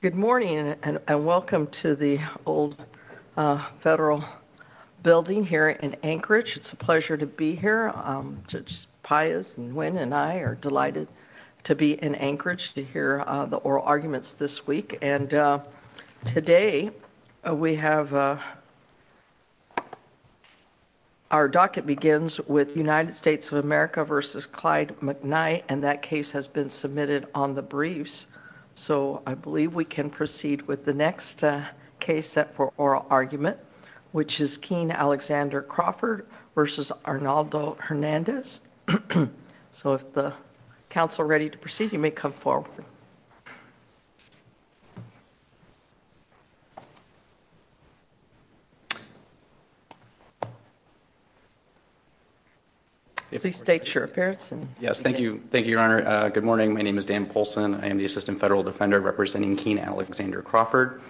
Good morning and welcome to the old federal building here in Anchorage. It's a pleasure to be here. Judge Pius and Nguyen and I are delighted to be in Anchorage to hear the oral arguments this week and today we have our docket begins with United States of America versus Clyde McKnight and that case has been submitted on the briefs so I believe we can proceed with the next case set for oral argument which is Keane-Alexander Crawford versus Arnaldo Hernandez so if the council ready to proceed you may come forward please state your appearance and yes thank you thank you your honor good morning my name is Dan Paulson I am the assistant federal defender representing Keane Alexander Crawford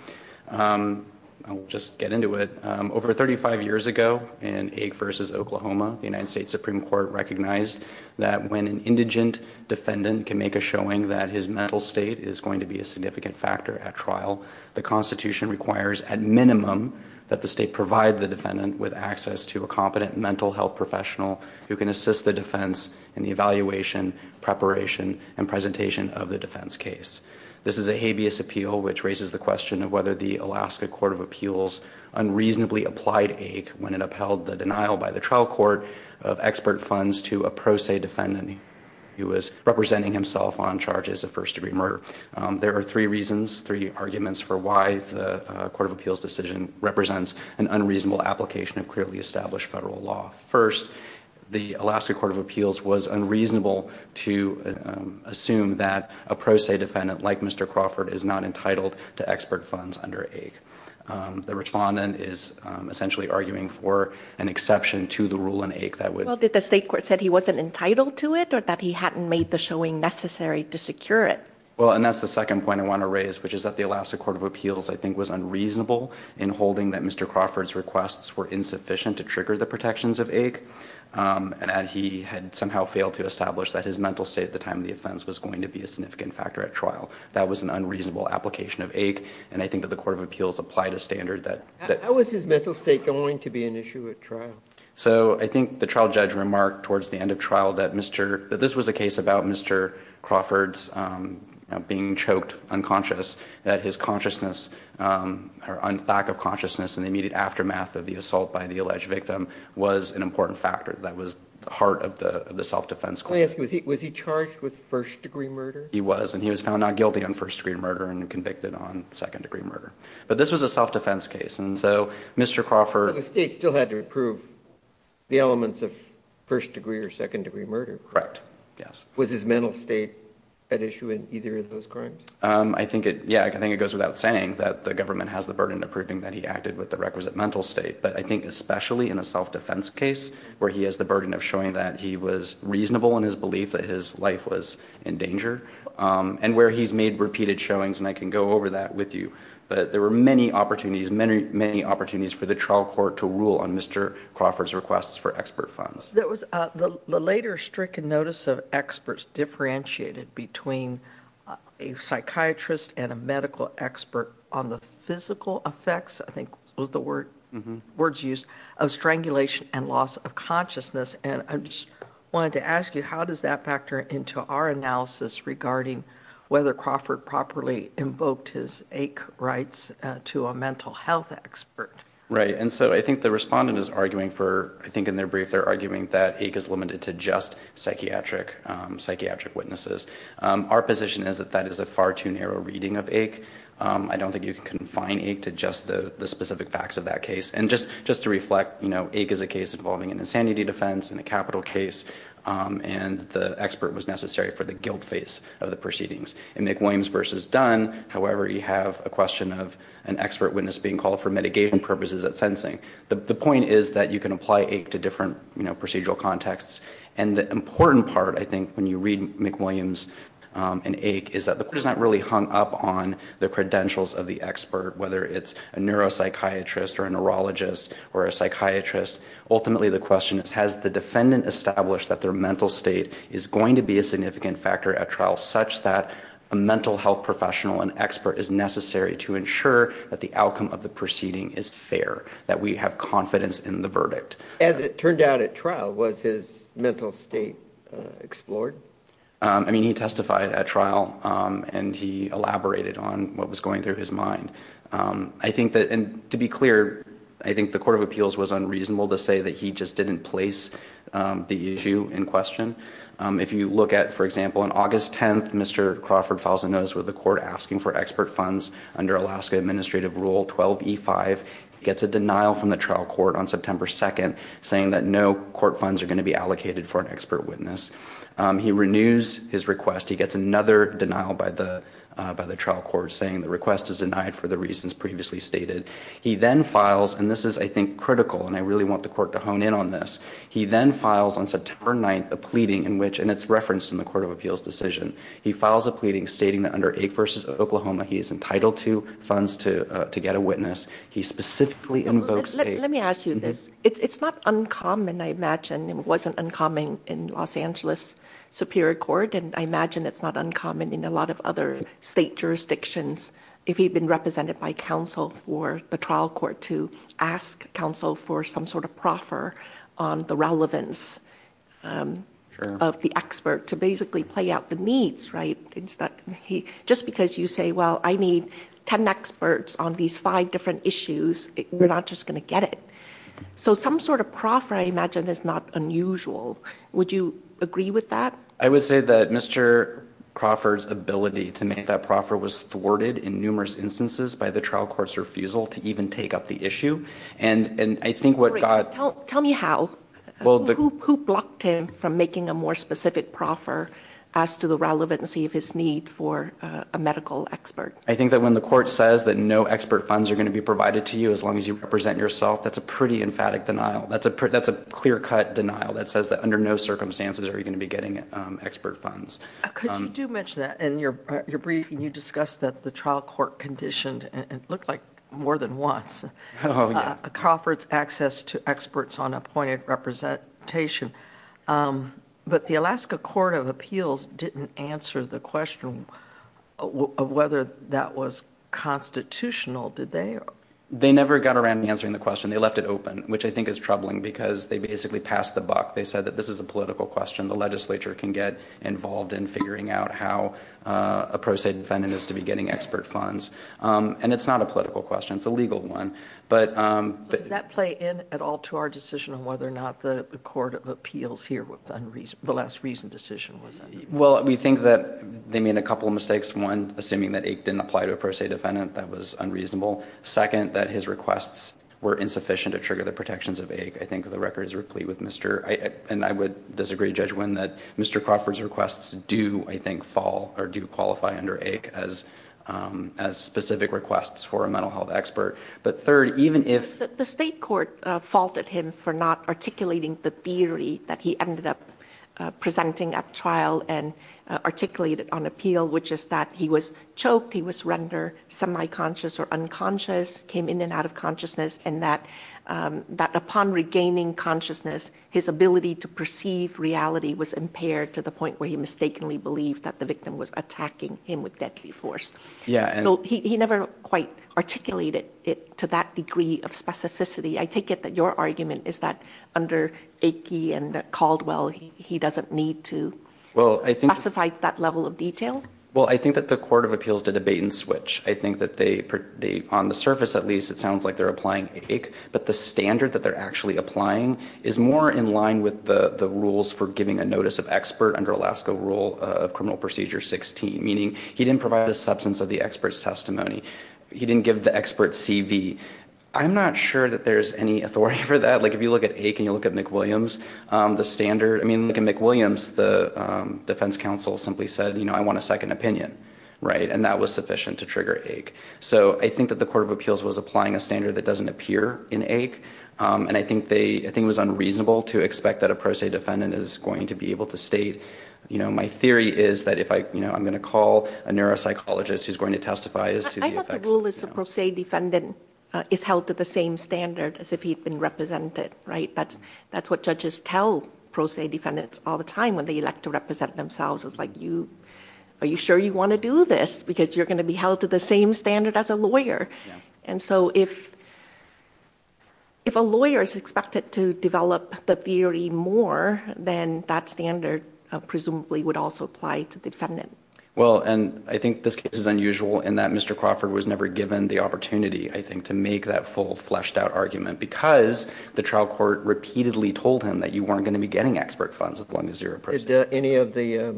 I'll just get into it over 35 years ago in a versus Oklahoma the United States Supreme Court recognized that when an indigent defendant can make a showing that his mental state is going to be a significant factor at trial the Constitution requires at minimum that the state provide the defendant with access to a competent mental health professional who can assist the defense in the evaluation preparation and presentation of the defense case this is a habeas appeal which raises the question of whether the Alaska Court of Appeals unreasonably applied a when it of expert funds to a pro se defendant he was representing himself on charges of first-degree murder there are three reasons three arguments for why the Court of Appeals decision represents an unreasonable application of clearly established federal law first the Alaska Court of Appeals was unreasonable to assume that a pro se defendant like mr. Crawford is not entitled to expert funds under a the respondent is essentially arguing for an exception to the rule in ache that would well did the state court said he wasn't entitled to it or that he hadn't made the showing necessary to secure it well and that's the second point I want to raise which is that the Alaska Court of Appeals I think was unreasonable in holding that mr. Crawford's requests were insufficient to trigger the protections of ache and he had somehow failed to establish that his mental state at the time the offense was going to be a significant factor at trial that was an unreasonable application of ache and I think that the Court of Appeals applied a standard that that was his mental state going to be an unreasonable application of ache and I think the trial judge remarked towards the end of trial that mr. that this was a case about mr. Crawford's being choked unconscious that his consciousness or on lack of consciousness in the immediate aftermath of the assault by the alleged victim was an important factor that was the heart of the the self-defense class was he charged with first-degree murder he was and he was found not guilty on first-degree murder and convicted on first-degree or second-degree murder correct yes was his mental state an issue in either of those crimes I think it yeah I think it goes without saying that the government has the burden of proving that he acted with the requisite mental state but I think especially in a self-defense case where he has the burden of showing that he was reasonable in his belief that his life was in danger and where he's made repeated showings and I can go over that with you but there were many opportunities many many opportunities for the trial court to rule on mr. Crawford's requests for expert funds that was the later stricken notice of experts differentiated between a psychiatrist and a medical expert on the physical effects I think was the word words used of strangulation and loss of consciousness and I just wanted to ask you how does that factor into our analysis regarding whether Crawford properly invoked his ache rights to a I think the respondent is arguing for I think in their brief they're arguing that ache is limited to just psychiatric psychiatric witnesses our position is that that is a far too narrow reading of ache I don't think you can confine ache to just the the specific facts of that case and just just to reflect you know ache is a case involving an insanity defense in a capital case and the expert was necessary for the guilt face of the proceedings and Nick Williams versus done however you have a question of an expert witness being called for the point is that you can apply ache to different you know procedural contexts and the important part I think when you read McWilliams and ache is that the court is not really hung up on the credentials of the expert whether it's a neuropsychiatrist or a neurologist or a psychiatrist ultimately the question is has the defendant established that their mental state is going to be a significant factor at trial such that a mental health professional and expert is necessary to ensure that the outcome of the proceeding is fair that we have confidence in the verdict as it turned out at trial was his mental state explored I mean he testified at trial and he elaborated on what was going through his mind I think that and to be clear I think the Court of Appeals was unreasonable to say that he just didn't place the issue in question if you look at for example on August 10th mr. Crawford files a notice with the court asking for expert funds under Alaska administrative rule 12e 5 gets a denial from the trial court on September 2nd saying that no court funds are going to be allocated for an expert witness he renews his request he gets another denial by the by the trial court saying the request is denied for the reasons previously stated he then files and this is I think critical and I really want the court to hone in on this he then files on September 9th a pleading in which and it's referenced in the Court of Appeals decision he files a pleading stating that under ache versus Oklahoma he is entitled to funds to to get a let me ask you this it's not uncommon I imagine it wasn't uncommon in Los Angeles Superior Court and I imagine it's not uncommon in a lot of other state jurisdictions if he'd been represented by counsel for the trial court to ask counsel for some sort of proffer on the relevance of the expert to basically play out the needs right it's that he just because you say well I need 10 experts on these five different issues we're not just gonna get it so some sort of proffer I imagine is not unusual would you agree with that I would say that mr. Crawford's ability to make that proffer was thwarted in numerous instances by the trial courts refusal to even take up the issue and and I think what God don't tell me how well the who blocked him from making a more specific proffer as to the relevancy of his need for a medical expert I think that when the court says that no expert funds are going to be provided to you as long as you represent yourself that's a pretty emphatic denial that's a pretty that's a clear-cut denial that says that under no circumstances are you going to be getting expert funds and you're you're breathing you discussed that the trial court conditioned and looked like more than once a conference access to experts on appointed representation but the whether that was constitutional did they they never got around answering the question they left it open which I think is troubling because they basically passed the buck they said that this is a political question the legislature can get involved in figuring out how a pro se defendant is to be getting expert funds and it's not a political question it's a legal one but that play in at all to our decision on whether or not the Court of Appeals here with unreason the last reason decision was well we think that they made a couple of mistakes one assuming that eight didn't apply to a pro se defendant that was unreasonable second that his requests were insufficient to trigger the protections of a I think the record is replete with mr. and I would disagree judge when that mr. Crawford's requests do I think fall or do qualify under a as as specific requests for a mental health expert but third even if the state court faulted him for not articulating the theory that he ended up presenting at trial and articulated on appeal which is that he was choked he was render semi conscious or unconscious came in and out of consciousness and that that upon regaining consciousness his ability to perceive reality was impaired to the point where he mistakenly believed that the victim was attacking him with deadly force yeah he never quite articulated it to that degree of specificity I take it that your argument is that under a key and called well he doesn't need to well I think suffice that level of detail well I think that the Court of Appeals to debate and switch I think that they put the on the surface at least it sounds like they're applying a but the standard that they're actually applying is more in line with the the rules for giving a notice of expert under Alaska rule of criminal procedure 16 meaning he didn't provide the substance of the experts testimony he didn't give the expert CV I'm not sure that there's any authority for that like if you look at a can you look at McWilliams the standard I mean look at McWilliams the defense counsel simply said you know I want a second opinion right and that was sufficient to trigger ache so I think that the Court of Appeals was applying a standard that doesn't appear in ache and I think they I think was unreasonable to expect that a pro se defendant is going to be able to state you know my theory is that if I you know I'm gonna call a neuropsychologist who's going to testify is to the rule is the pro se defendant is held to the same standard as if he'd been represented right that's that's what judges tell pro se defendants all the time when they elect to represent themselves it's like you are you sure you want to do this because you're gonna be held to the same standard as a lawyer and so if if a lawyer is expected to develop the theory more than that standard presumably would also apply to defendant well and I think this case is unusual in that mr. Crawford was never given the opportunity I think to make that full fleshed out argument because the trial court repeatedly told him that you weren't going to be getting expert funds as long as you're a prisoner any of the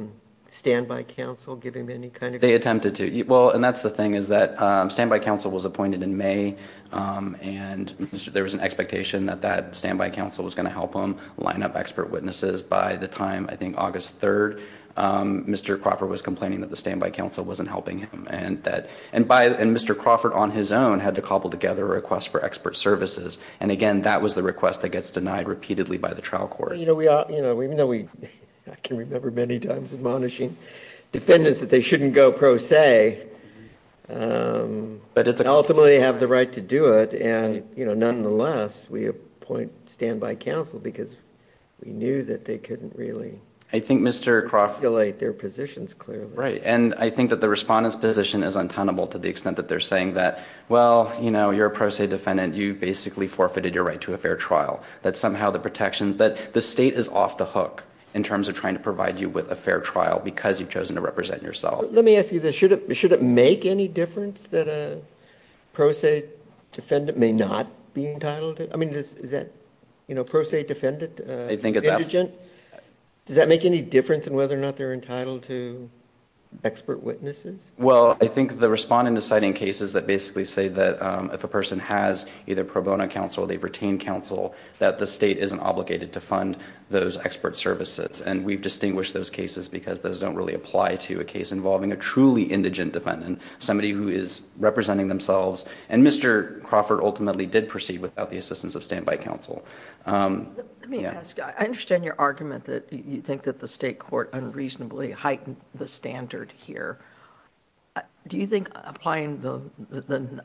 standby counsel giving me any kind of they attempted to eat well and that's the thing is that standby counsel was appointed in May and there was an expectation that that standby counsel was going to help them line up expert witnesses by the time I think August 3rd mr. Crawford was complaining that the standby counsel wasn't helping him and that and by the end mr. Crawford on his own had to the request that gets denied repeatedly by the trial court you know we are you know we know we can remember many times admonishing defendants that they shouldn't go pro se but it's ultimately have the right to do it and you know nonetheless we appoint standby counsel because we knew that they couldn't really I think mr. Crawford late their positions clearly right and I think that the respondents position is untenable to the extent that they're saying that well you know you're a pro se defendant you've basically forfeited your right to a fair trial that somehow the protection that the state is off the hook in terms of trying to provide you with a fair trial because you've chosen to represent yourself let me ask you this should it should it make any difference that a pro se defendant may not be entitled I mean is that you know pro se defendant I think it's a gent does that make any difference and whether or not they're entitled to expert witnesses well I think the respond in deciding cases that basically say that if a person has either pro bono counsel they've retained counsel that the state isn't obligated to fund those expert services and we've distinguished those cases because those don't really apply to a case involving a truly indigent defendant somebody who is representing themselves and mr. Crawford ultimately did proceed without the assistance of standby counsel I understand your argument that you think that the state court unreasonably heightened the standard here do you applying the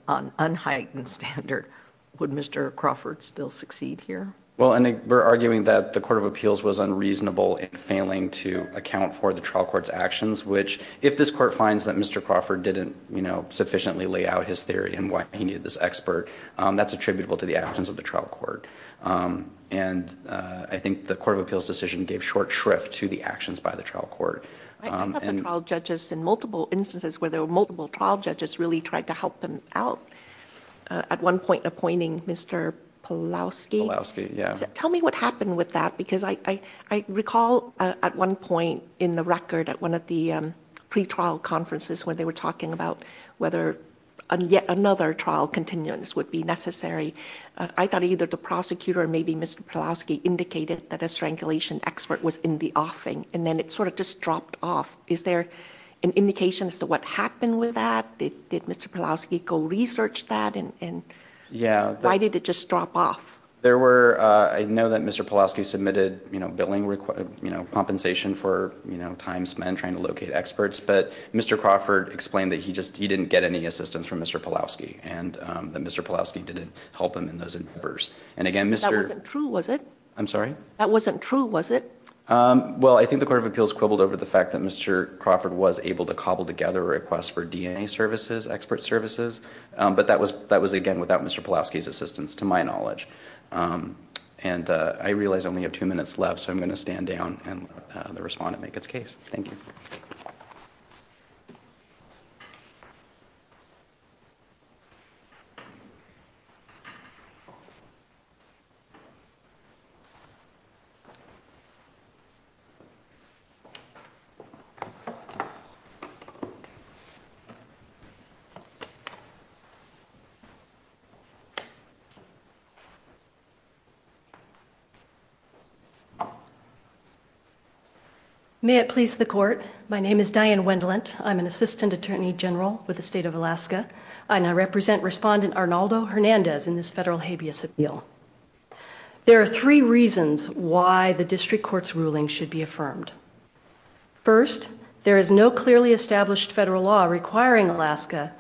unheightened standard would mr. Crawford still succeed here well I think we're arguing that the Court of Appeals was unreasonable in failing to account for the trial courts actions which if this court finds that mr. Crawford didn't you know sufficiently lay out his theory and why he needed this expert that's attributable to the actions of the trial court and I think the Court of Appeals decision gave short shrift to the actions by the trial court judges in multiple instances where there were trial judges really tried to help them out at one point appointing mr. Polowski yeah tell me what happened with that because I I recall at one point in the record at one of the pretrial conferences when they were talking about whether yet another trial continuance would be necessary I thought either the prosecutor or maybe mr. Polowski indicated that a strangulation expert was in the offing and then it sort of just dropped off is there an indication as to what happened with that they did mr. Polowski go research that and yeah why did it just drop off there were I know that mr. Polowski submitted you know billing required you know compensation for you know time spent trying to locate experts but mr. Crawford explained that he just he didn't get any assistance from mr. Polowski and that mr. Polowski didn't help him in those endeavors and again mr. true was it I'm sorry that wasn't true was it well I think the Court of Appeals quibbled over the fact that mr. Crawford was able to cobble together requests for DNA services expert services but that was that was again without mr. Polowski's assistance to my knowledge and I realize only have two minutes left so I'm going to stand down and the respondent make its case thank you you may it please the court my name is Diane Wendlandt I'm an assistant attorney general with the state of Alaska I now represent respondent Arnaldo Hernandez in this federal habeas appeal there are three reasons why the district court's there is no clearly established federal law requiring Alaska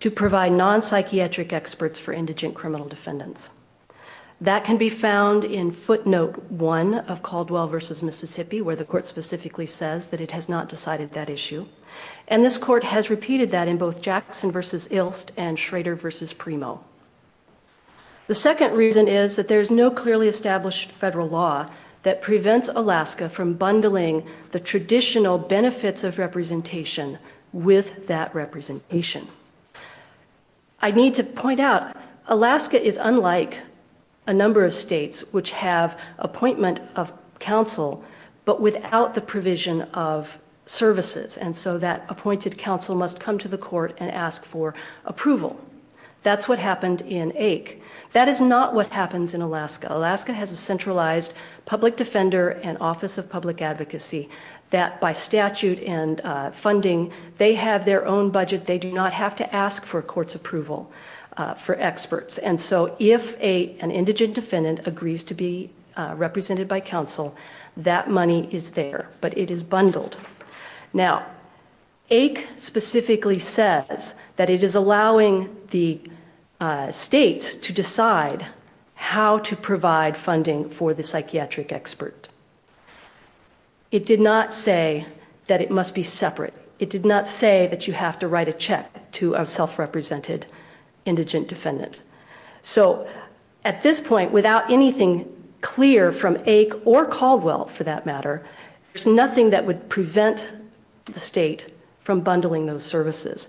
to provide non-psychiatric experts for indigent criminal defendants that can be found in footnote one of Caldwell versus Mississippi where the court specifically says that it has not decided that issue and this court has repeated that in both Jackson versus Ilst and Schrader versus primo the second reason is that there's no clearly established federal law that prevents Alaska from bundling the representation with that representation I need to point out Alaska is unlike a number of states which have appointment of counsel but without the provision of services and so that appointed counsel must come to the court and ask for approval that's what happened in ache that is not what happens in Alaska Alaska has a centralized public defender and office of public advocacy that by statute and funding they have their own budget they do not have to ask for court's approval for experts and so if a an indigent defendant agrees to be represented by counsel that money is there but it is bundled now ache specifically says that it is allowing the state to decide how to provide funding for the psychiatric expert it did not say that it must be separate it did not say that you have to write a check to a self-represented indigent defendant so at this point without anything clear from ache or Caldwell for that matter there's nothing that would prevent the state from bundling those services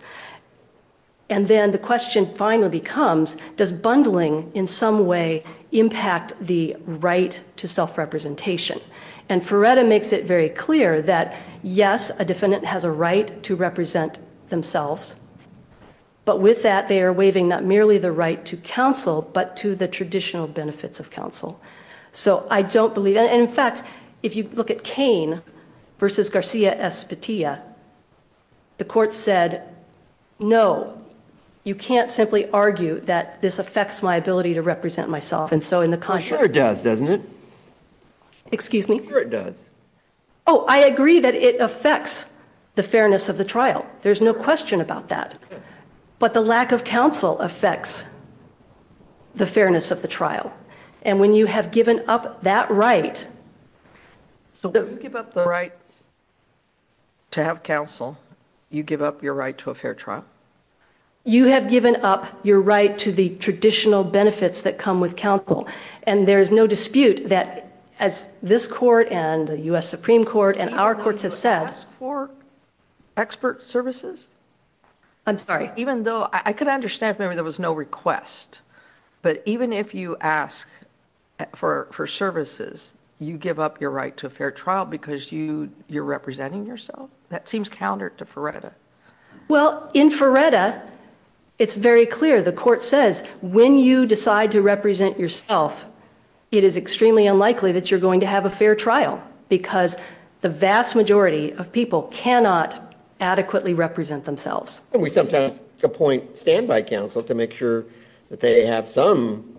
and then the question finally becomes does bundling in some way impact the right to self-representation and Ferreira makes it very clear that yes a defendant has a right to represent themselves but with that they are waiving not merely the right to counsel but to the traditional benefits of counsel so I don't believe in fact if you look at Cain versus Garcia Esposito the court said no you can't simply argue that this affects my ability to represent myself and so in the country does doesn't it excuse me it does oh I agree that it affects the fairness of the trial there's no question about that but the lack of counsel affects the fairness of the trial and when you have given up that right to have counsel you give up your right to a fair trial you have given up your right to the traditional benefits that come with counsel and there is no dispute that as this court and the US Supreme Court and our courts have said for expert services I'm sorry even though I could understand memory there was no request but even if you ask for services you give up your right to a fair trial because you you're representing yourself that seems counter to Feretta well in Feretta it's very clear the court says when you decide to represent yourself it is extremely unlikely that you're going to have a fair trial because the vast majority of people cannot adequately represent themselves we sometimes appoint standby counsel to make sure that they have some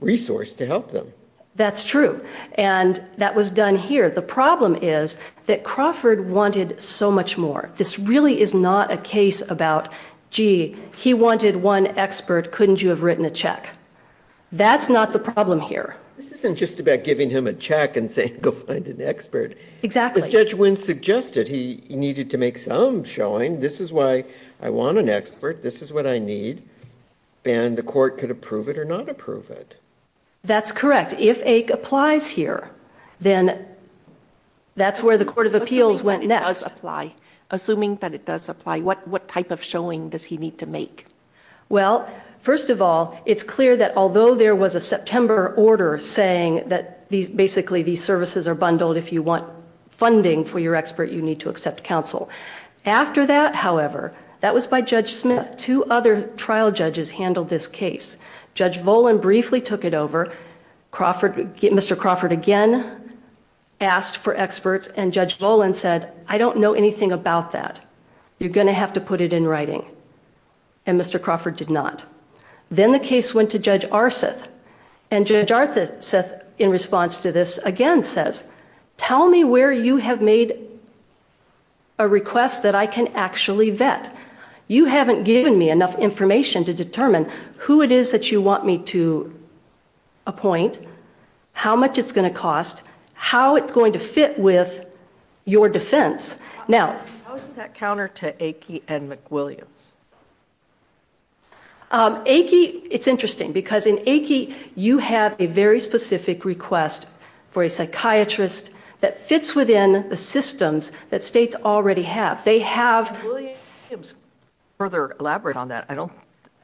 resource to help them that's true and that was done here the problem is that Crawford wanted so much more this really is not a case about gee he wanted one expert couldn't you have written a check that's not the problem here this isn't just about giving him a check and say go find an expert exactly judge Wynn suggested he needed to make some showing this is why I want an expert this is what I need and the court could approve it or not that's correct if a applies here then that's where the Court of Appeals went next apply assuming that it does apply what what type of showing does he need to make well first of all it's clear that although there was a September order saying that these basically these services are bundled if you want funding for your expert you need to accept counsel after that however that was by trial judges handled this case judge Boland briefly took it over Crawford get mr. Crawford again asked for experts and judge Boland said I don't know anything about that you're gonna have to put it in writing and mr. Crawford did not then the case went to judge Arseth and judge Arthur said in response to this again says tell me where you have made a request that I can actually vet you haven't given me enough information to determine who it is that you want me to appoint how much it's going to cost how it's going to fit with your defense now counter to a key and McWilliams a key it's interesting because in a key you have a very specific request for a psychiatrist that fits within the states already have they have further elaborate on that I don't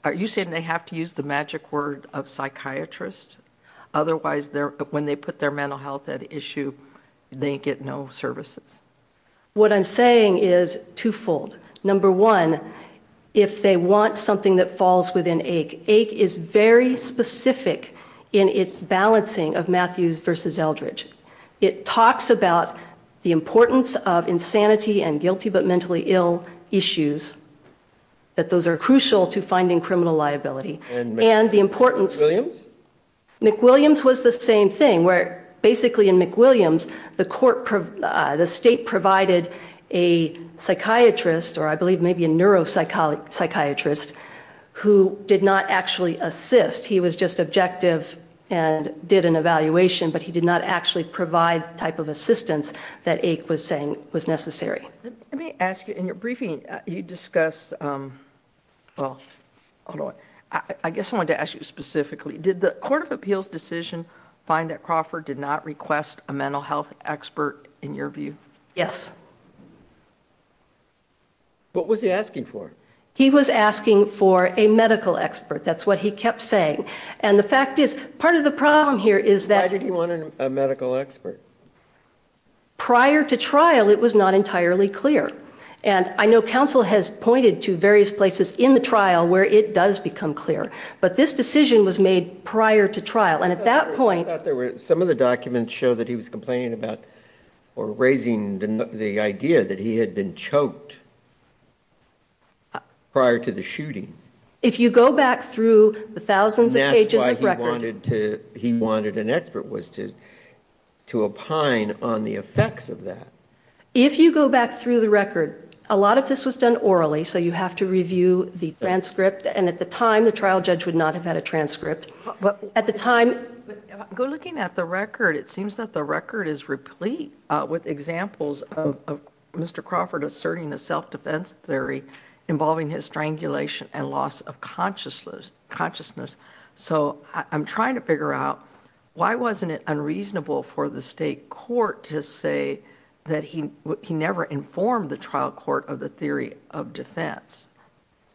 are you saying they have to use the magic word of psychiatrist otherwise there when they put their mental health at issue they get no services what I'm saying is twofold number one if they want something that falls within a ache is very specific in its balancing of Matthews versus Eldridge it talks about the importance of insanity and guilty but mentally ill issues that those are crucial to finding criminal liability and the importance McWilliams was the same thing where basically in McWilliams the court the state provided a psychiatrist or I believe maybe a neuropsychology psychiatrist who did not actually assist he was just objective and did an evaluation but he did not actually provide type of assistance that ache was saying was necessary let me ask you in your briefing you discuss well I guess I want to ask you specifically did the Court of Appeals decision find that Crawford did not request a mental health expert in your view yes what was he asking for he was asking for a medical expert that's what he kept saying and the fact is part of the problem here is that did he wanted a medical expert prior to trial it was not entirely clear and I know counsel has pointed to various places in the trial where it does become clear but this decision was made prior to trial and at that point there were some of the documents show that he was complaining about or raising the idea that he had been choked prior to the shooting if you go back through the thousands of pages he wanted an expert was to to opine on the effects of that if you go back through the record a lot of this was done orally so you have to review the transcript and at the time the trial judge would not have had a transcript but at the time go looking at the record it seems that the record is replete with examples of mr. Crawford asserting the involving his strangulation and loss of consciousness consciousness so I'm trying to figure out why wasn't it unreasonable for the state court to say that he never informed the trial court of the theory of defense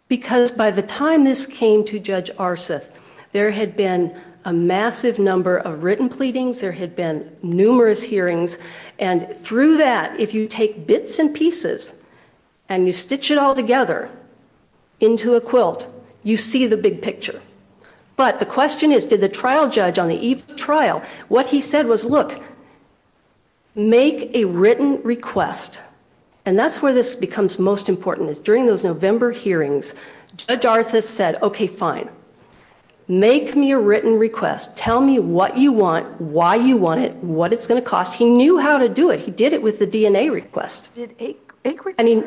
because by the time this came to judge Arseth there had been a massive number of written pleadings there had been numerous hearings and through that if you take bits and pieces and you stitch it all together into a quilt you see the big picture but the question is did the trial judge on the eve of trial what he said was look make a written request and that's where this becomes most important is during those November hearings judge Arthas said okay fine make me a written request tell me what you want why you want it what it's gonna cost he knew how to do it he did it with the DNA request I mean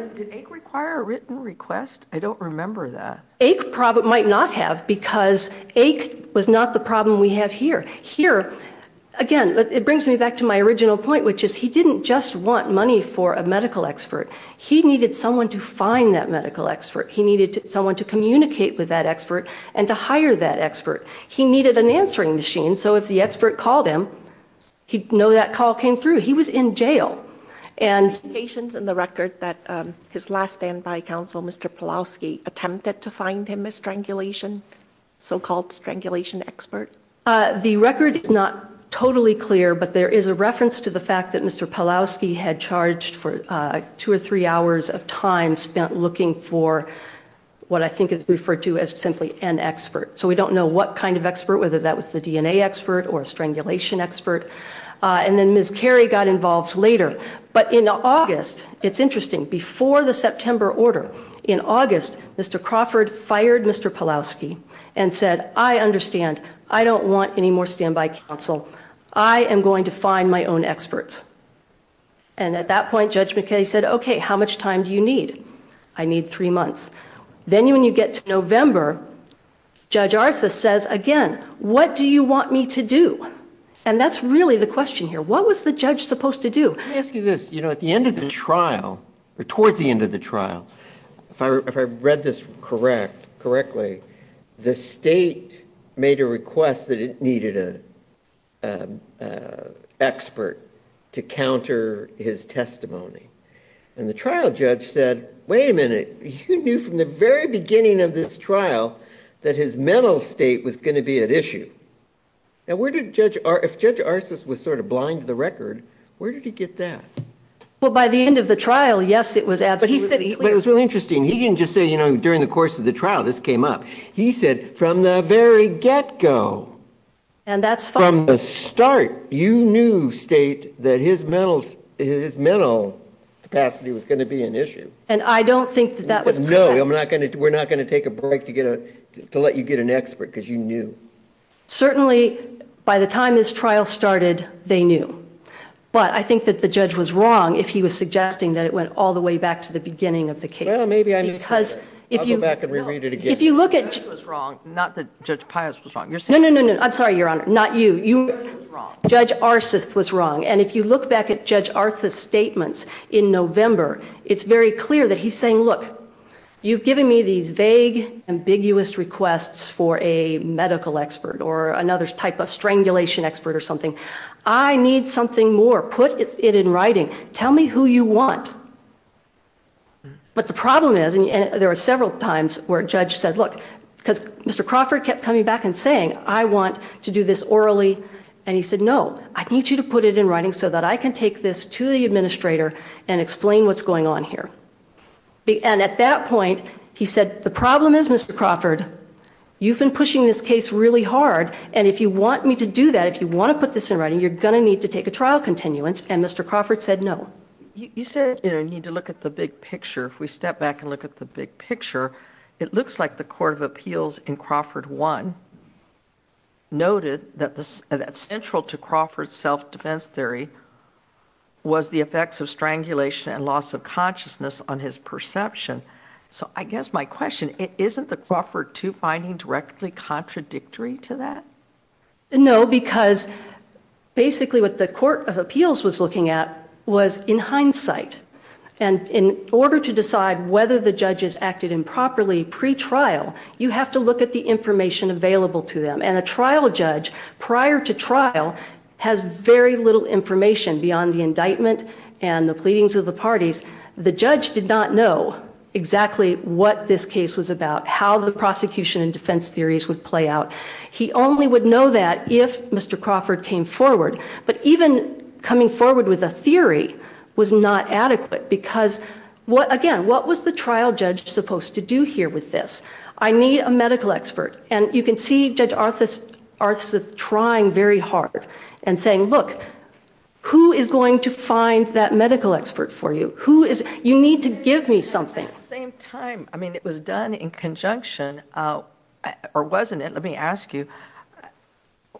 I don't remember that a problem might not have because it was not the problem we have here here again but it brings me back to my original point which is he didn't just want money for a medical expert he needed someone to find that medical expert he needed someone to communicate with that expert and to hire that expert he needed an answering machine so if the expert called him he'd know that call came through he was in jail and patients in the record that his last standby counsel mr. Polosky attempted to find him a strangulation so-called strangulation expert the record is not totally clear but there is a reference to the fact that mr. Polosky had charged for two or three hours of time spent looking for what I think is referred to as simply an expert so we don't know what kind of expert whether that was the DNA expert or a strangulation expert and then miss Kerry got involved later but in August it's interesting before the September order in August mr. Crawford fired mr. Polosky and said I understand I don't want any more standby counsel I am going to find my own experts and at that point judge McKay said okay how much time do you need I again what do you want me to do and that's really the question here what was the judge supposed to do this you know at the end of the trial or towards the end of the trial if I read this correct correctly the state made a request that it needed a expert to counter his testimony and the trial judge said wait a minute you knew from the very beginning of this trial that his mental state was going to be an issue now where did judge or if judge Arsis was sort of blind to the record where did he get that well by the end of the trial yes it was absolutely it was really interesting he didn't just say you know during the course of the trial this came up he said from the very get-go and that's from the start you knew state that his metals his mental capacity was going to be an issue and I don't think that was no I'm not gonna do we're not going to take a break to get a to let you get an expert because you knew certainly by the time this trial started they knew but I think that the judge was wrong if he was suggesting that it went all the way back to the beginning of the case maybe I mean because if you look at wrong not that judge Pius was wrong you're saying I'm sorry your honor not you you judge Arsis was wrong and if you look back at judge Arthur's statements in November it's very clear that he's look you've given me these vague ambiguous requests for a medical expert or another type of strangulation expert or something I need something more put it in writing tell me who you want but the problem is and there are several times where judge said look because mr. Crawford kept coming back and saying I want to do this orally and he said no I need you to put it in writing so that I can take this to the administrator and explain what's going on here and at that point he said the problem is mr. Crawford you've been pushing this case really hard and if you want me to do that if you want to put this in writing you're gonna need to take a trial continuance and mr. Crawford said no you said I need to look at the big picture if we step back and look at the big picture it looks like the Court of Appeals in Crawford one noted that this central to Crawford self-defense theory was the effects of strangulation and loss of consciousness on his perception so I guess my question it isn't the Crawford to finding directly contradictory to that no because basically what the Court of Appeals was looking at was in hindsight and in order to decide whether the judges acted improperly pre-trial you have to look at the information available to them and a trial judge prior to trial has very little information beyond the indictment and the pleadings of the parties the judge did not know exactly what this case was about how the prosecution and defense theories would play out he only would know that if mr. Crawford came forward but even coming forward with a theory was not adequate because what again what was the trial judge supposed to do here with this I need a medical expert and you can see judge Arthas Arthas of trying very hard and saying look who is going to find that medical expert for you who is you need to give me something same time I mean it was done in conjunction or wasn't it let me ask you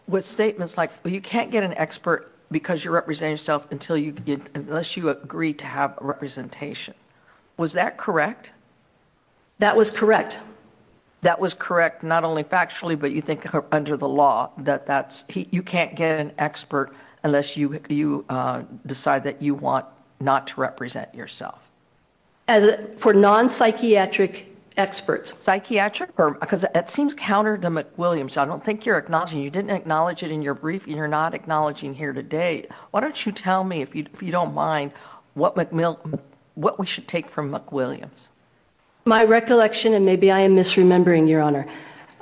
with statements like you can't get an expert because you represent yourself until you unless you agree to have a representation was that correct that was correct that was correct not only factually but you think under the law that that's you can't get an expert unless you you decide that you want not to represent yourself and for non psychiatric experts psychiatric because it seems counter to McWilliams I don't think you're acknowledging you didn't acknowledge it in your brief you're not acknowledging here today why don't you tell me if you don't mind what McMillan what we should take from McWilliams my recollection and maybe I am misremembering your honor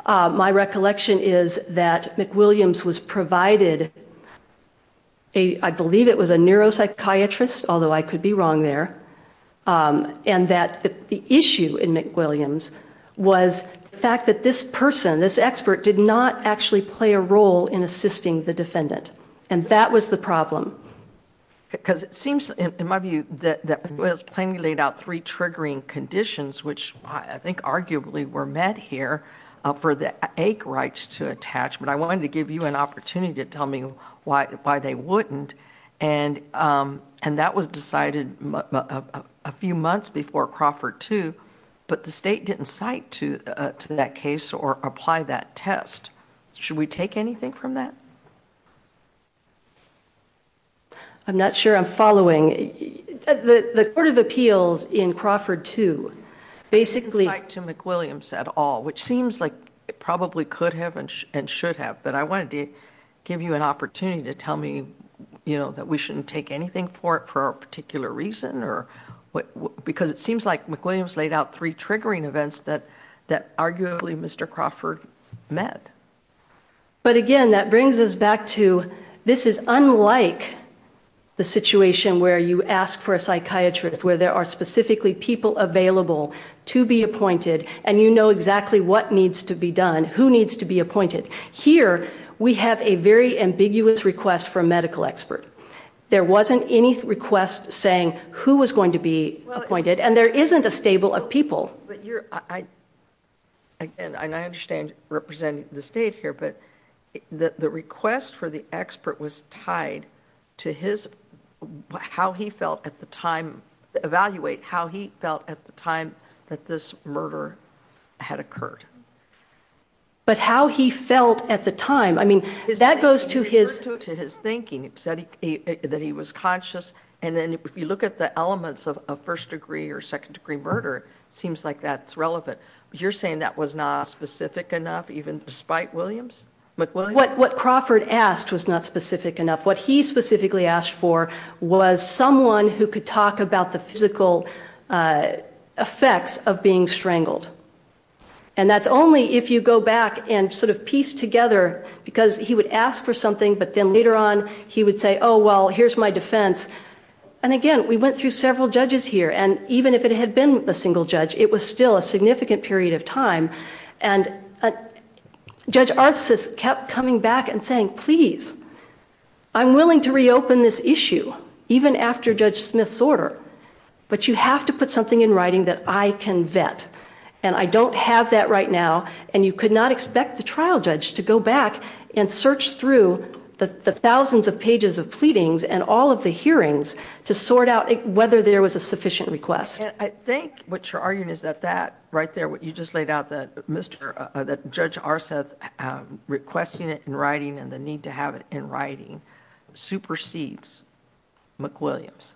my recollection is that McWilliams was provided a I believe it was a neuropsychiatrist although I could be wrong there and that the issue in McWilliams was the fact that this person this expert did not actually play a role in assisting the defendant and that was the problem because it seems in my view that was plainly laid out three triggering conditions which I think arguably were met here for the ache rights to attachment I wanted to give you an opportunity to tell me why why they wouldn't and and that was decided a few months before Crawford too but the state didn't cite to that case or apply that test should we take anything from that I'm not sure I'm following the court of appeals in Crawford to basically to McWilliams at all which seems like it probably could have and should have but I wanted to give you an opportunity to tell me you know that we shouldn't take anything for it for a particular reason or what because it seems like McWilliams laid out three triggering events that that arguably mr. Crawford met but again that brings us back to this is unlike the situation where you ask for a psychiatrist where there are specifically people available to be appointed and you know exactly what needs to be done who needs to be appointed here we have a very ambiguous request for a medical expert there wasn't any request saying who was going to be appointed and there isn't a stable of people but you're I and I understand representing the state here but that the request for the expert was tied to his how he felt at the time evaluate how he felt at the time that this murder had occurred but how he felt at the time I mean that goes to his to his thinking it said he that he was conscious and then if you look at the elements of a first degree or second degree murder it seems like that's relevant you're saying that was not specific enough even despite Williams but what what Crawford asked was not specific enough what he specifically asked for was someone who could talk about the physical effects of being strangled and that's only if you go back and sort of piece together because he would ask for something but then later on he would say oh well here's my defense and again we went through several judges here and even if it had been a single judge it was still a significant period of time and a judge artist has kept coming back and saying please I'm willing to reopen this issue even after Judge Smith's order but you have to put something in writing that I can vet and I don't have that right now and you could not expect the trial judge to go back and search through the thousands of pages of pleadings and all of the hearings to sort out whether there was a sufficient request I think what you're arguing is that that right there what you just laid out that mr. that judge our Seth requesting it in writing and the need to have it in writing supersedes McWilliams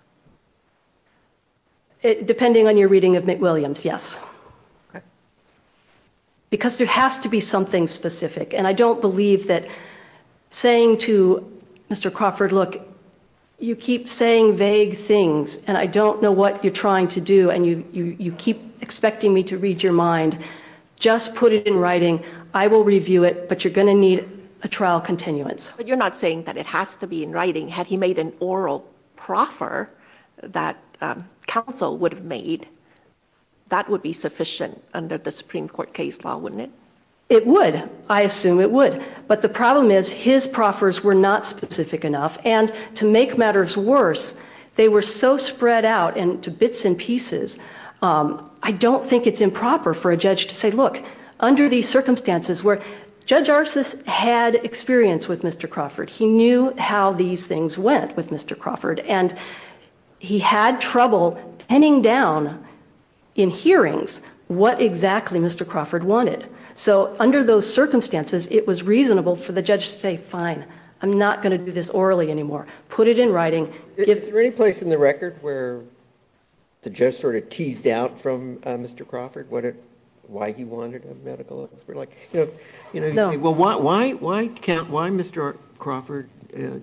depending on your reading of McWilliams yes because there has to be something specific and I don't believe that saying to mr. Crawford look you keep saying things and I don't know what you're trying to do and you you keep expecting me to read your mind just put it in writing I will review it but you're gonna need a trial continuance but you're not saying that it has to be in writing had he made an oral proffer that counsel would have made that would be sufficient under the Supreme Court case law wouldn't it it would I assume it would but the problem is his proffers were not specific enough and to make matters worse they were so spread out and to bits and pieces I don't think it's improper for a judge to say look under these circumstances where judge arsis had experience with mr. Crawford he knew how these things went with mr. Crawford and he had trouble penning down in hearings what exactly mr. Crawford wanted so under those circumstances it was reasonable for the judge to say fine I'm not gonna do this orally anymore put it in writing if there any place in the record where the judge sort of teased out from mr. Crawford what it why he wanted a medical expert like you know well why why can't why mr. Crawford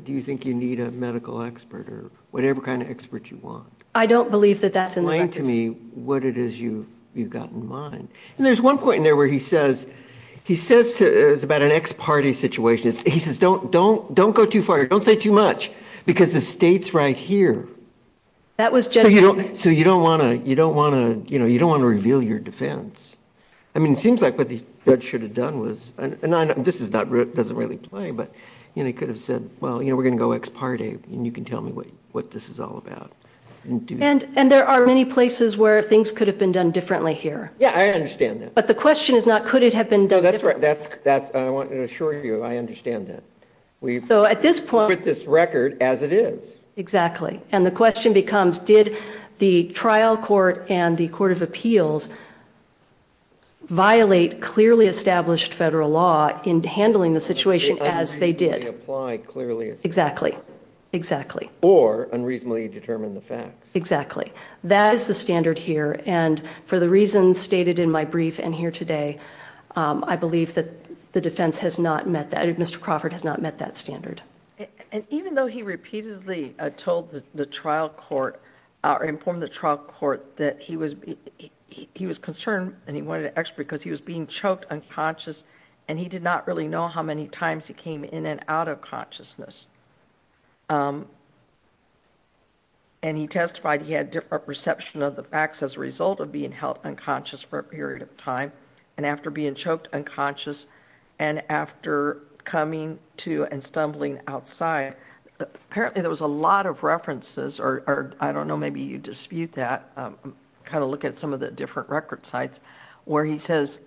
do you think you need a medical expert or whatever kind of expert you want I don't believe that that's in line to me what it is you you've got in mind and there's one point in there where he says he says to is about an ex-party situation he says don't don't don't go too far don't say too much because the state's right here that was so you don't want to you don't want to you know you don't want to reveal your defense I mean it seems like what the judge should have done was and this is not doesn't really play but you know he could have said well you know we're gonna go ex-party and you can tell me what what this is all about and and there are many places where things could have been done differently here yeah I understand that but the question is not could it have been done that's right that's that's I want to assure you I understand that we so at this point this record as it is exactly and the question becomes did the trial court and the Court of Appeals violate clearly established federal law in handling the situation as they did exactly exactly or unreasonably determine the facts exactly that is the standard here and for the reasons stated in my brief and here today I believe that the defense has not met that if mr. Crawford has not met that standard and even though he repeatedly told the trial court or informed the trial court that he was he was concerned and he wanted to expert because he was being choked unconscious and he did not really know how many times he came in and out of consciousness and he testified he had different perception of the facts as a result of being held unconscious for a year and after being choked unconscious and after coming to and stumbling outside apparently there was a lot of references or I don't know maybe you dispute that kind of look at some of the different record sites where he says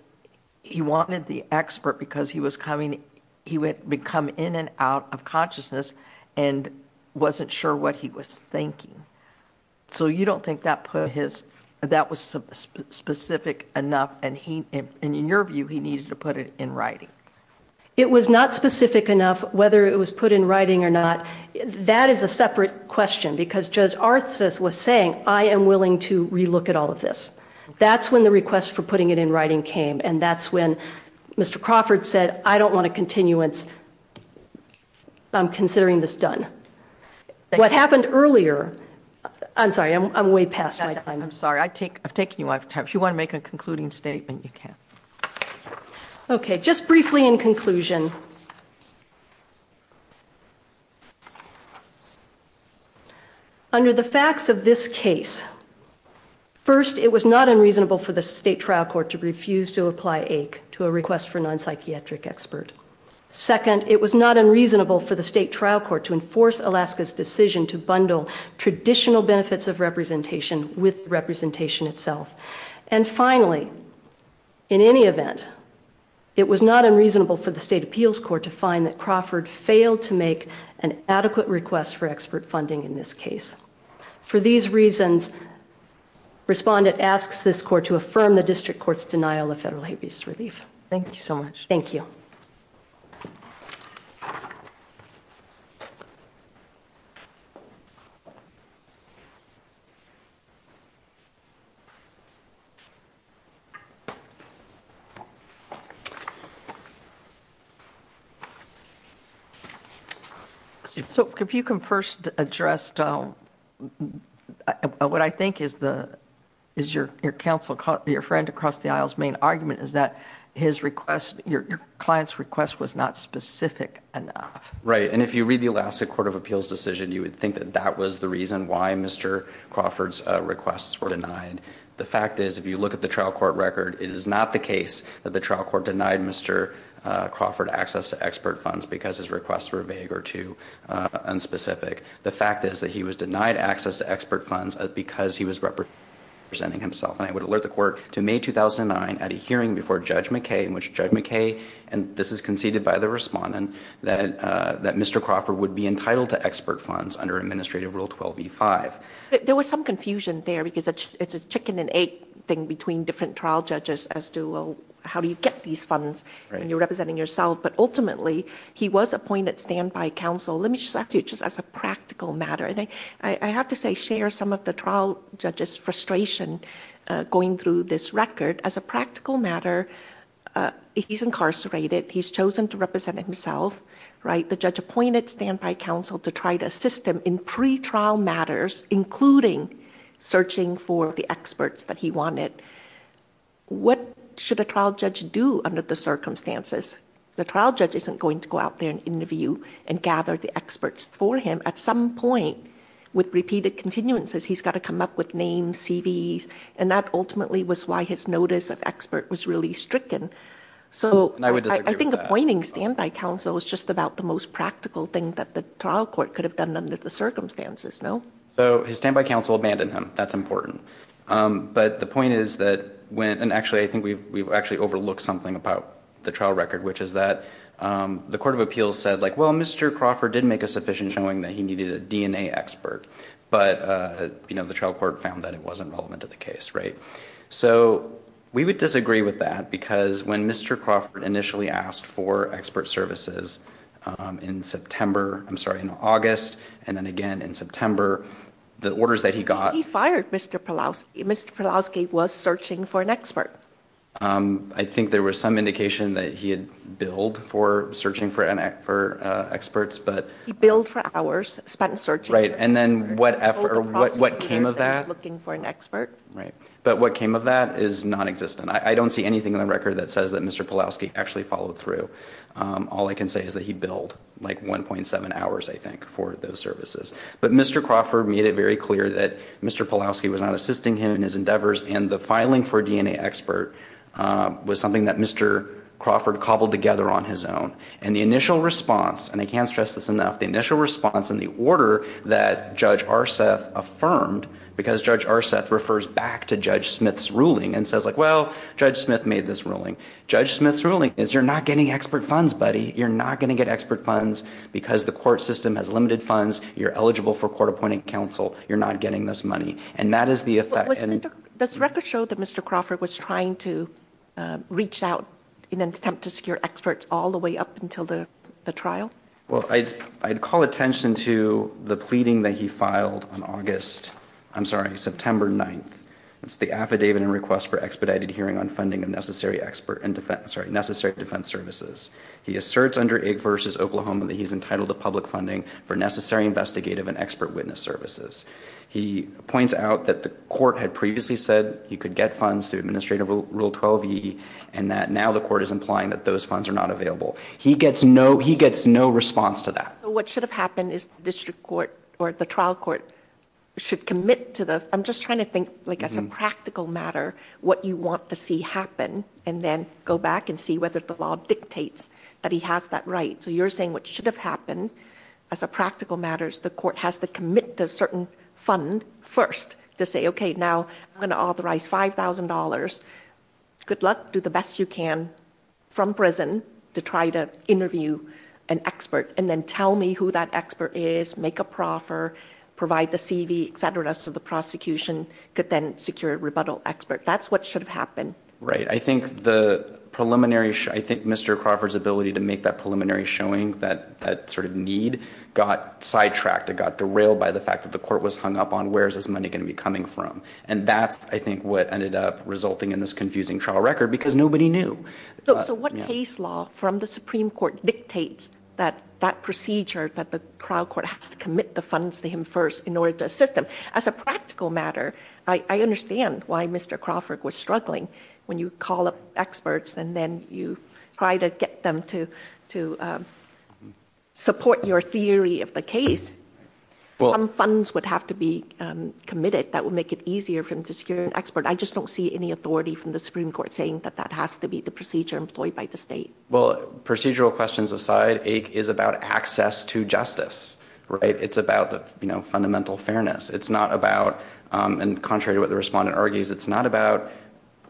he wanted the expert because he was coming he would become in and out of consciousness and wasn't sure what he was thinking so you don't think that put his that was specific enough and he and in your view he needed to put it in writing it was not specific enough whether it was put in writing or not that is a separate question because just our thesis was saying I am willing to relook at all of this that's when the request for putting it in writing came and that's when mr. Crawford said I don't want to continuance I'm considering this done what happened earlier I'm sorry I'm way past I'm sorry I take I've taken you out of time if you want to make a concluding statement you can okay just briefly in conclusion under the facts of this case first it was not unreasonable for the state trial court to refuse to apply ache to a request for non-psychiatric expert second it was not unreasonable for the state trial court to enforce Alaska's decision to bundle traditional benefits of representation with representation itself and finally in any event it was not unreasonable for the state appeals court to find that Crawford failed to make an adequate request for expert funding in this case for these reasons respondent asks this court to affirm the district courts denial of federal habeas relief thank you so much thank you so if you can first address don't what I think is the is your counsel caught your client's request was not specific right and if you read the Alaska Court of Appeals decision you would think that that was the reason why mr. Crawford's requests were denied the fact is if you look at the trial court record it is not the case that the trial court denied mr. Crawford access to expert funds because his requests were vague or too unspecific the fact is that he was denied access to expert funds because he was representing himself and I would 2009 at a hearing before judge McKay in which judge McKay and this is conceded by the respondent that that mr. Crawford would be entitled to expert funds under administrative rule 12 v5 there was some confusion there because it's a chicken and egg thing between different trial judges as to well how do you get these funds and you're representing yourself but ultimately he was appointed stand by counsel let me just after you just as a practical matter I think I have to say share some of the trial judges frustration going through this record as a practical matter he's incarcerated he's chosen to represent himself right the judge appointed stand by counsel to try to assist him in pre trial matters including searching for the experts that he wanted what should a trial judge do under the circumstances the trial judge isn't going to go out there and interview and gather the experts for him at some point with repeated continuances he's got to come up with names CVs and that ultimately was why his notice of expert was really stricken so I would I think appointing standby counsel was just about the most practical thing that the trial court could have done under the circumstances no so his standby counsel abandoned him that's important but the point is that when and actually I think we've actually overlooked something about the trial record which is that the Court of Appeals said like well mr. Crawford didn't make a sufficient showing that he you know the trial court found that it wasn't relevant to the case right so we would disagree with that because when mr. Crawford initially asked for expert services in September I'm sorry in August and then again in September the orders that he got he fired mr. Palouse mr. Polanski was searching for an expert I think there was some indication that he had billed for searching for an act experts but he billed for hours spent searching right and then whatever what what came of that looking for an expert right but what came of that is non-existent I don't see anything in the record that says that mr. Polanski actually followed through all I can say is that he billed like 1.7 hours I think for those services but mr. Crawford made it very clear that mr. Polanski was not assisting him in his endeavors and the filing for DNA expert was something that Mr. Crawford cobbled together on his own and the initial response and I can't stress this enough the initial response in the order that judge Arseth affirmed because judge Arseth refers back to judge Smith's ruling and says like well judge Smith made this ruling judge Smith's ruling is you're not getting expert funds buddy you're not gonna get expert funds because the court system has limited funds you're eligible for court-appointed counsel you're not getting this money and that is the effect and this record showed that mr. Crawford was trying to reach out in an attempt to secure experts all the way up until the trial well I'd call attention to the pleading that he filed on August I'm sorry September 9th it's the affidavit and request for expedited hearing on funding of necessary expert and defense right necessary defense services he asserts under it versus Oklahoma that he's entitled to public funding for necessary investigative and expert witness services he points out that the court had previously said you could get funds to administrative rule 12e and that now the court is implying that those funds are not available he gets no he gets no response to that what should have happened is district court or the trial court should commit to the I'm just trying to think like as a practical matter what you want to see happen and then go back and see whether the law dictates that he has that right so you're saying what should have happened as a practical matters the court has to commit to certain fund first to say okay now I'm gonna authorize $5,000 good luck do the best you can from prison to try to interview an expert and then tell me who that expert is make a proffer provide the CV etc to the prosecution could then secure rebuttal expert that's what should have happened right I think the preliminary I think mr. Crawford's ability to make that preliminary showing that that sort of need got sidetracked it got derailed by the fact that the court was hung up on where's this money going to be coming from and that's I think what ended up resulting in this confusing trial record because nobody knew so what case law from the Supreme Court dictates that that procedure that the trial court has to commit the funds to him first in order to assist them as a practical matter I understand why mr. Crawford was struggling when you call up experts and then you try to get them to to support your theory of the case well I'm funds would have to be committed that would make it easier for him to secure an expert I just don't see any authority from the Supreme Court saying that that has to be the procedure employed by the state well procedural questions aside ache is about access to justice right it's about the you know fundamental fairness it's not about and contrary to what the respondent argues it's not about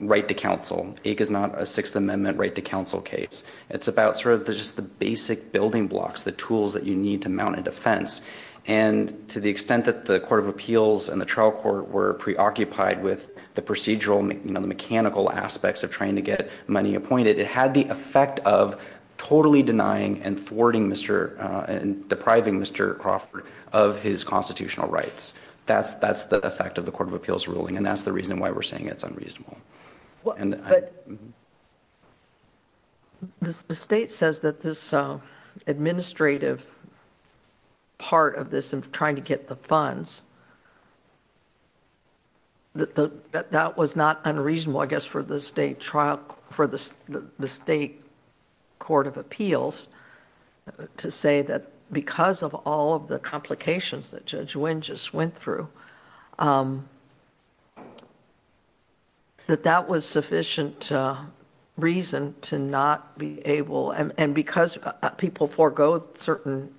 right to counsel ache is not a Sixth Amendment right to counsel case it's about sort of the just the basic building blocks the tools that you need to mount a defense and to the extent that the Court of Appeals and the trial court were preoccupied with the procedural make you know the mechanical aspects of trying to get money appointed it had the effect of totally denying and thwarting mr. and depriving mr. Crawford of his constitutional rights that's that's the effect of the Court of Appeals ruling and that's the reason why we're saying it's unreasonable and the state says that this administrative part of this and trying to get the funds that that was not unreasonable I guess for the state trial for this the state Court of Appeals to say that because of all of the complications that judge wind just went through that that was sufficient reason to not be able and because people forgo certain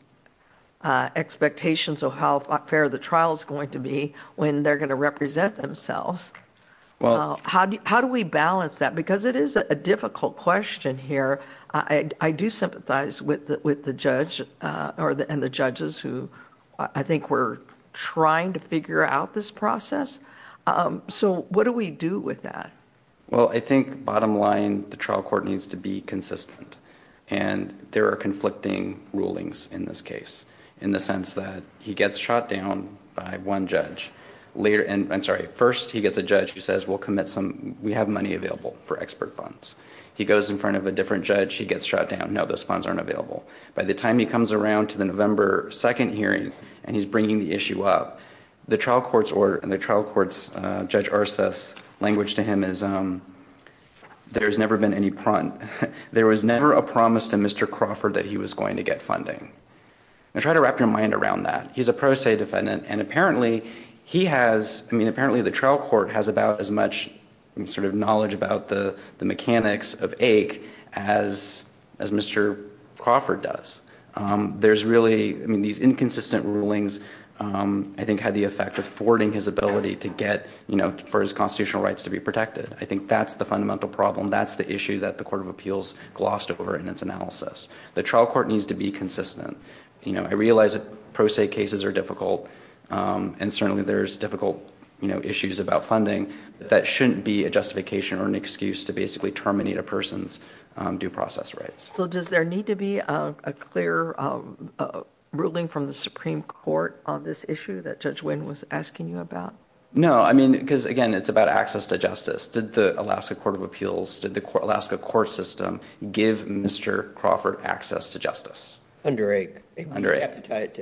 expectations of how fair the trial is going to be when they're going to represent themselves well how do you how do we balance that because it is a difficult question here I do sympathize with that with the judge or the and the judges who I think we're trying to figure out this process so what do we do with that well I think bottom line the trial court needs to be consistent and there are conflicting rulings in this case in the sense that he gets shot down by one judge later and I'm sorry first he gets a judge who says we'll commit some we goes in front of a different judge he gets shot down now the sponsor and available by the time he comes around to the November 2nd hearing and he's bringing the issue up the trial courts or in the trial courts judge Arces language to him is there's never been any front there was never a promise to Mr. Crawford that he was going to get funding I try to wrap your mind around that he's a pro se defendant and apparently he has I mean apparently the much sort of knowledge about the mechanics of ache as as Mr. Crawford does there's really I mean these inconsistent rulings I think had the effect of thwarting his ability to get you know for his constitutional rights to be protected I think that's the fundamental problem that's the issue that the Court of Appeals glossed over in its analysis the trial court needs to be consistent you know I realize it pro se cases are difficult and certainly there's difficult you know issues about funding that shouldn't be a justification or an excuse to basically terminate a person's due process rights so does there need to be a clear ruling from the Supreme Court on this issue that judge Wynn was asking you about no I mean because again it's about access to justice did the Alaska Court of Appeals did the Alaska court system give mr. Crawford access to justice under a right right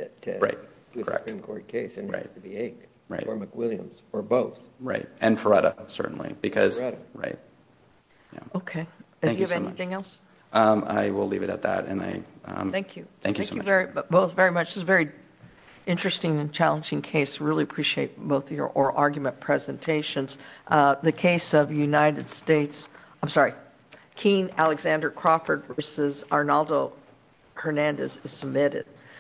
or McWilliams or both right and Faretta certainly because right okay I will leave it at that and I thank you thank you very much this is very interesting and challenging case really appreciate both your oral argument presentations the case of United States I'm sorry keen Alexander Crawford versus Arnaldo Hernandez is submitted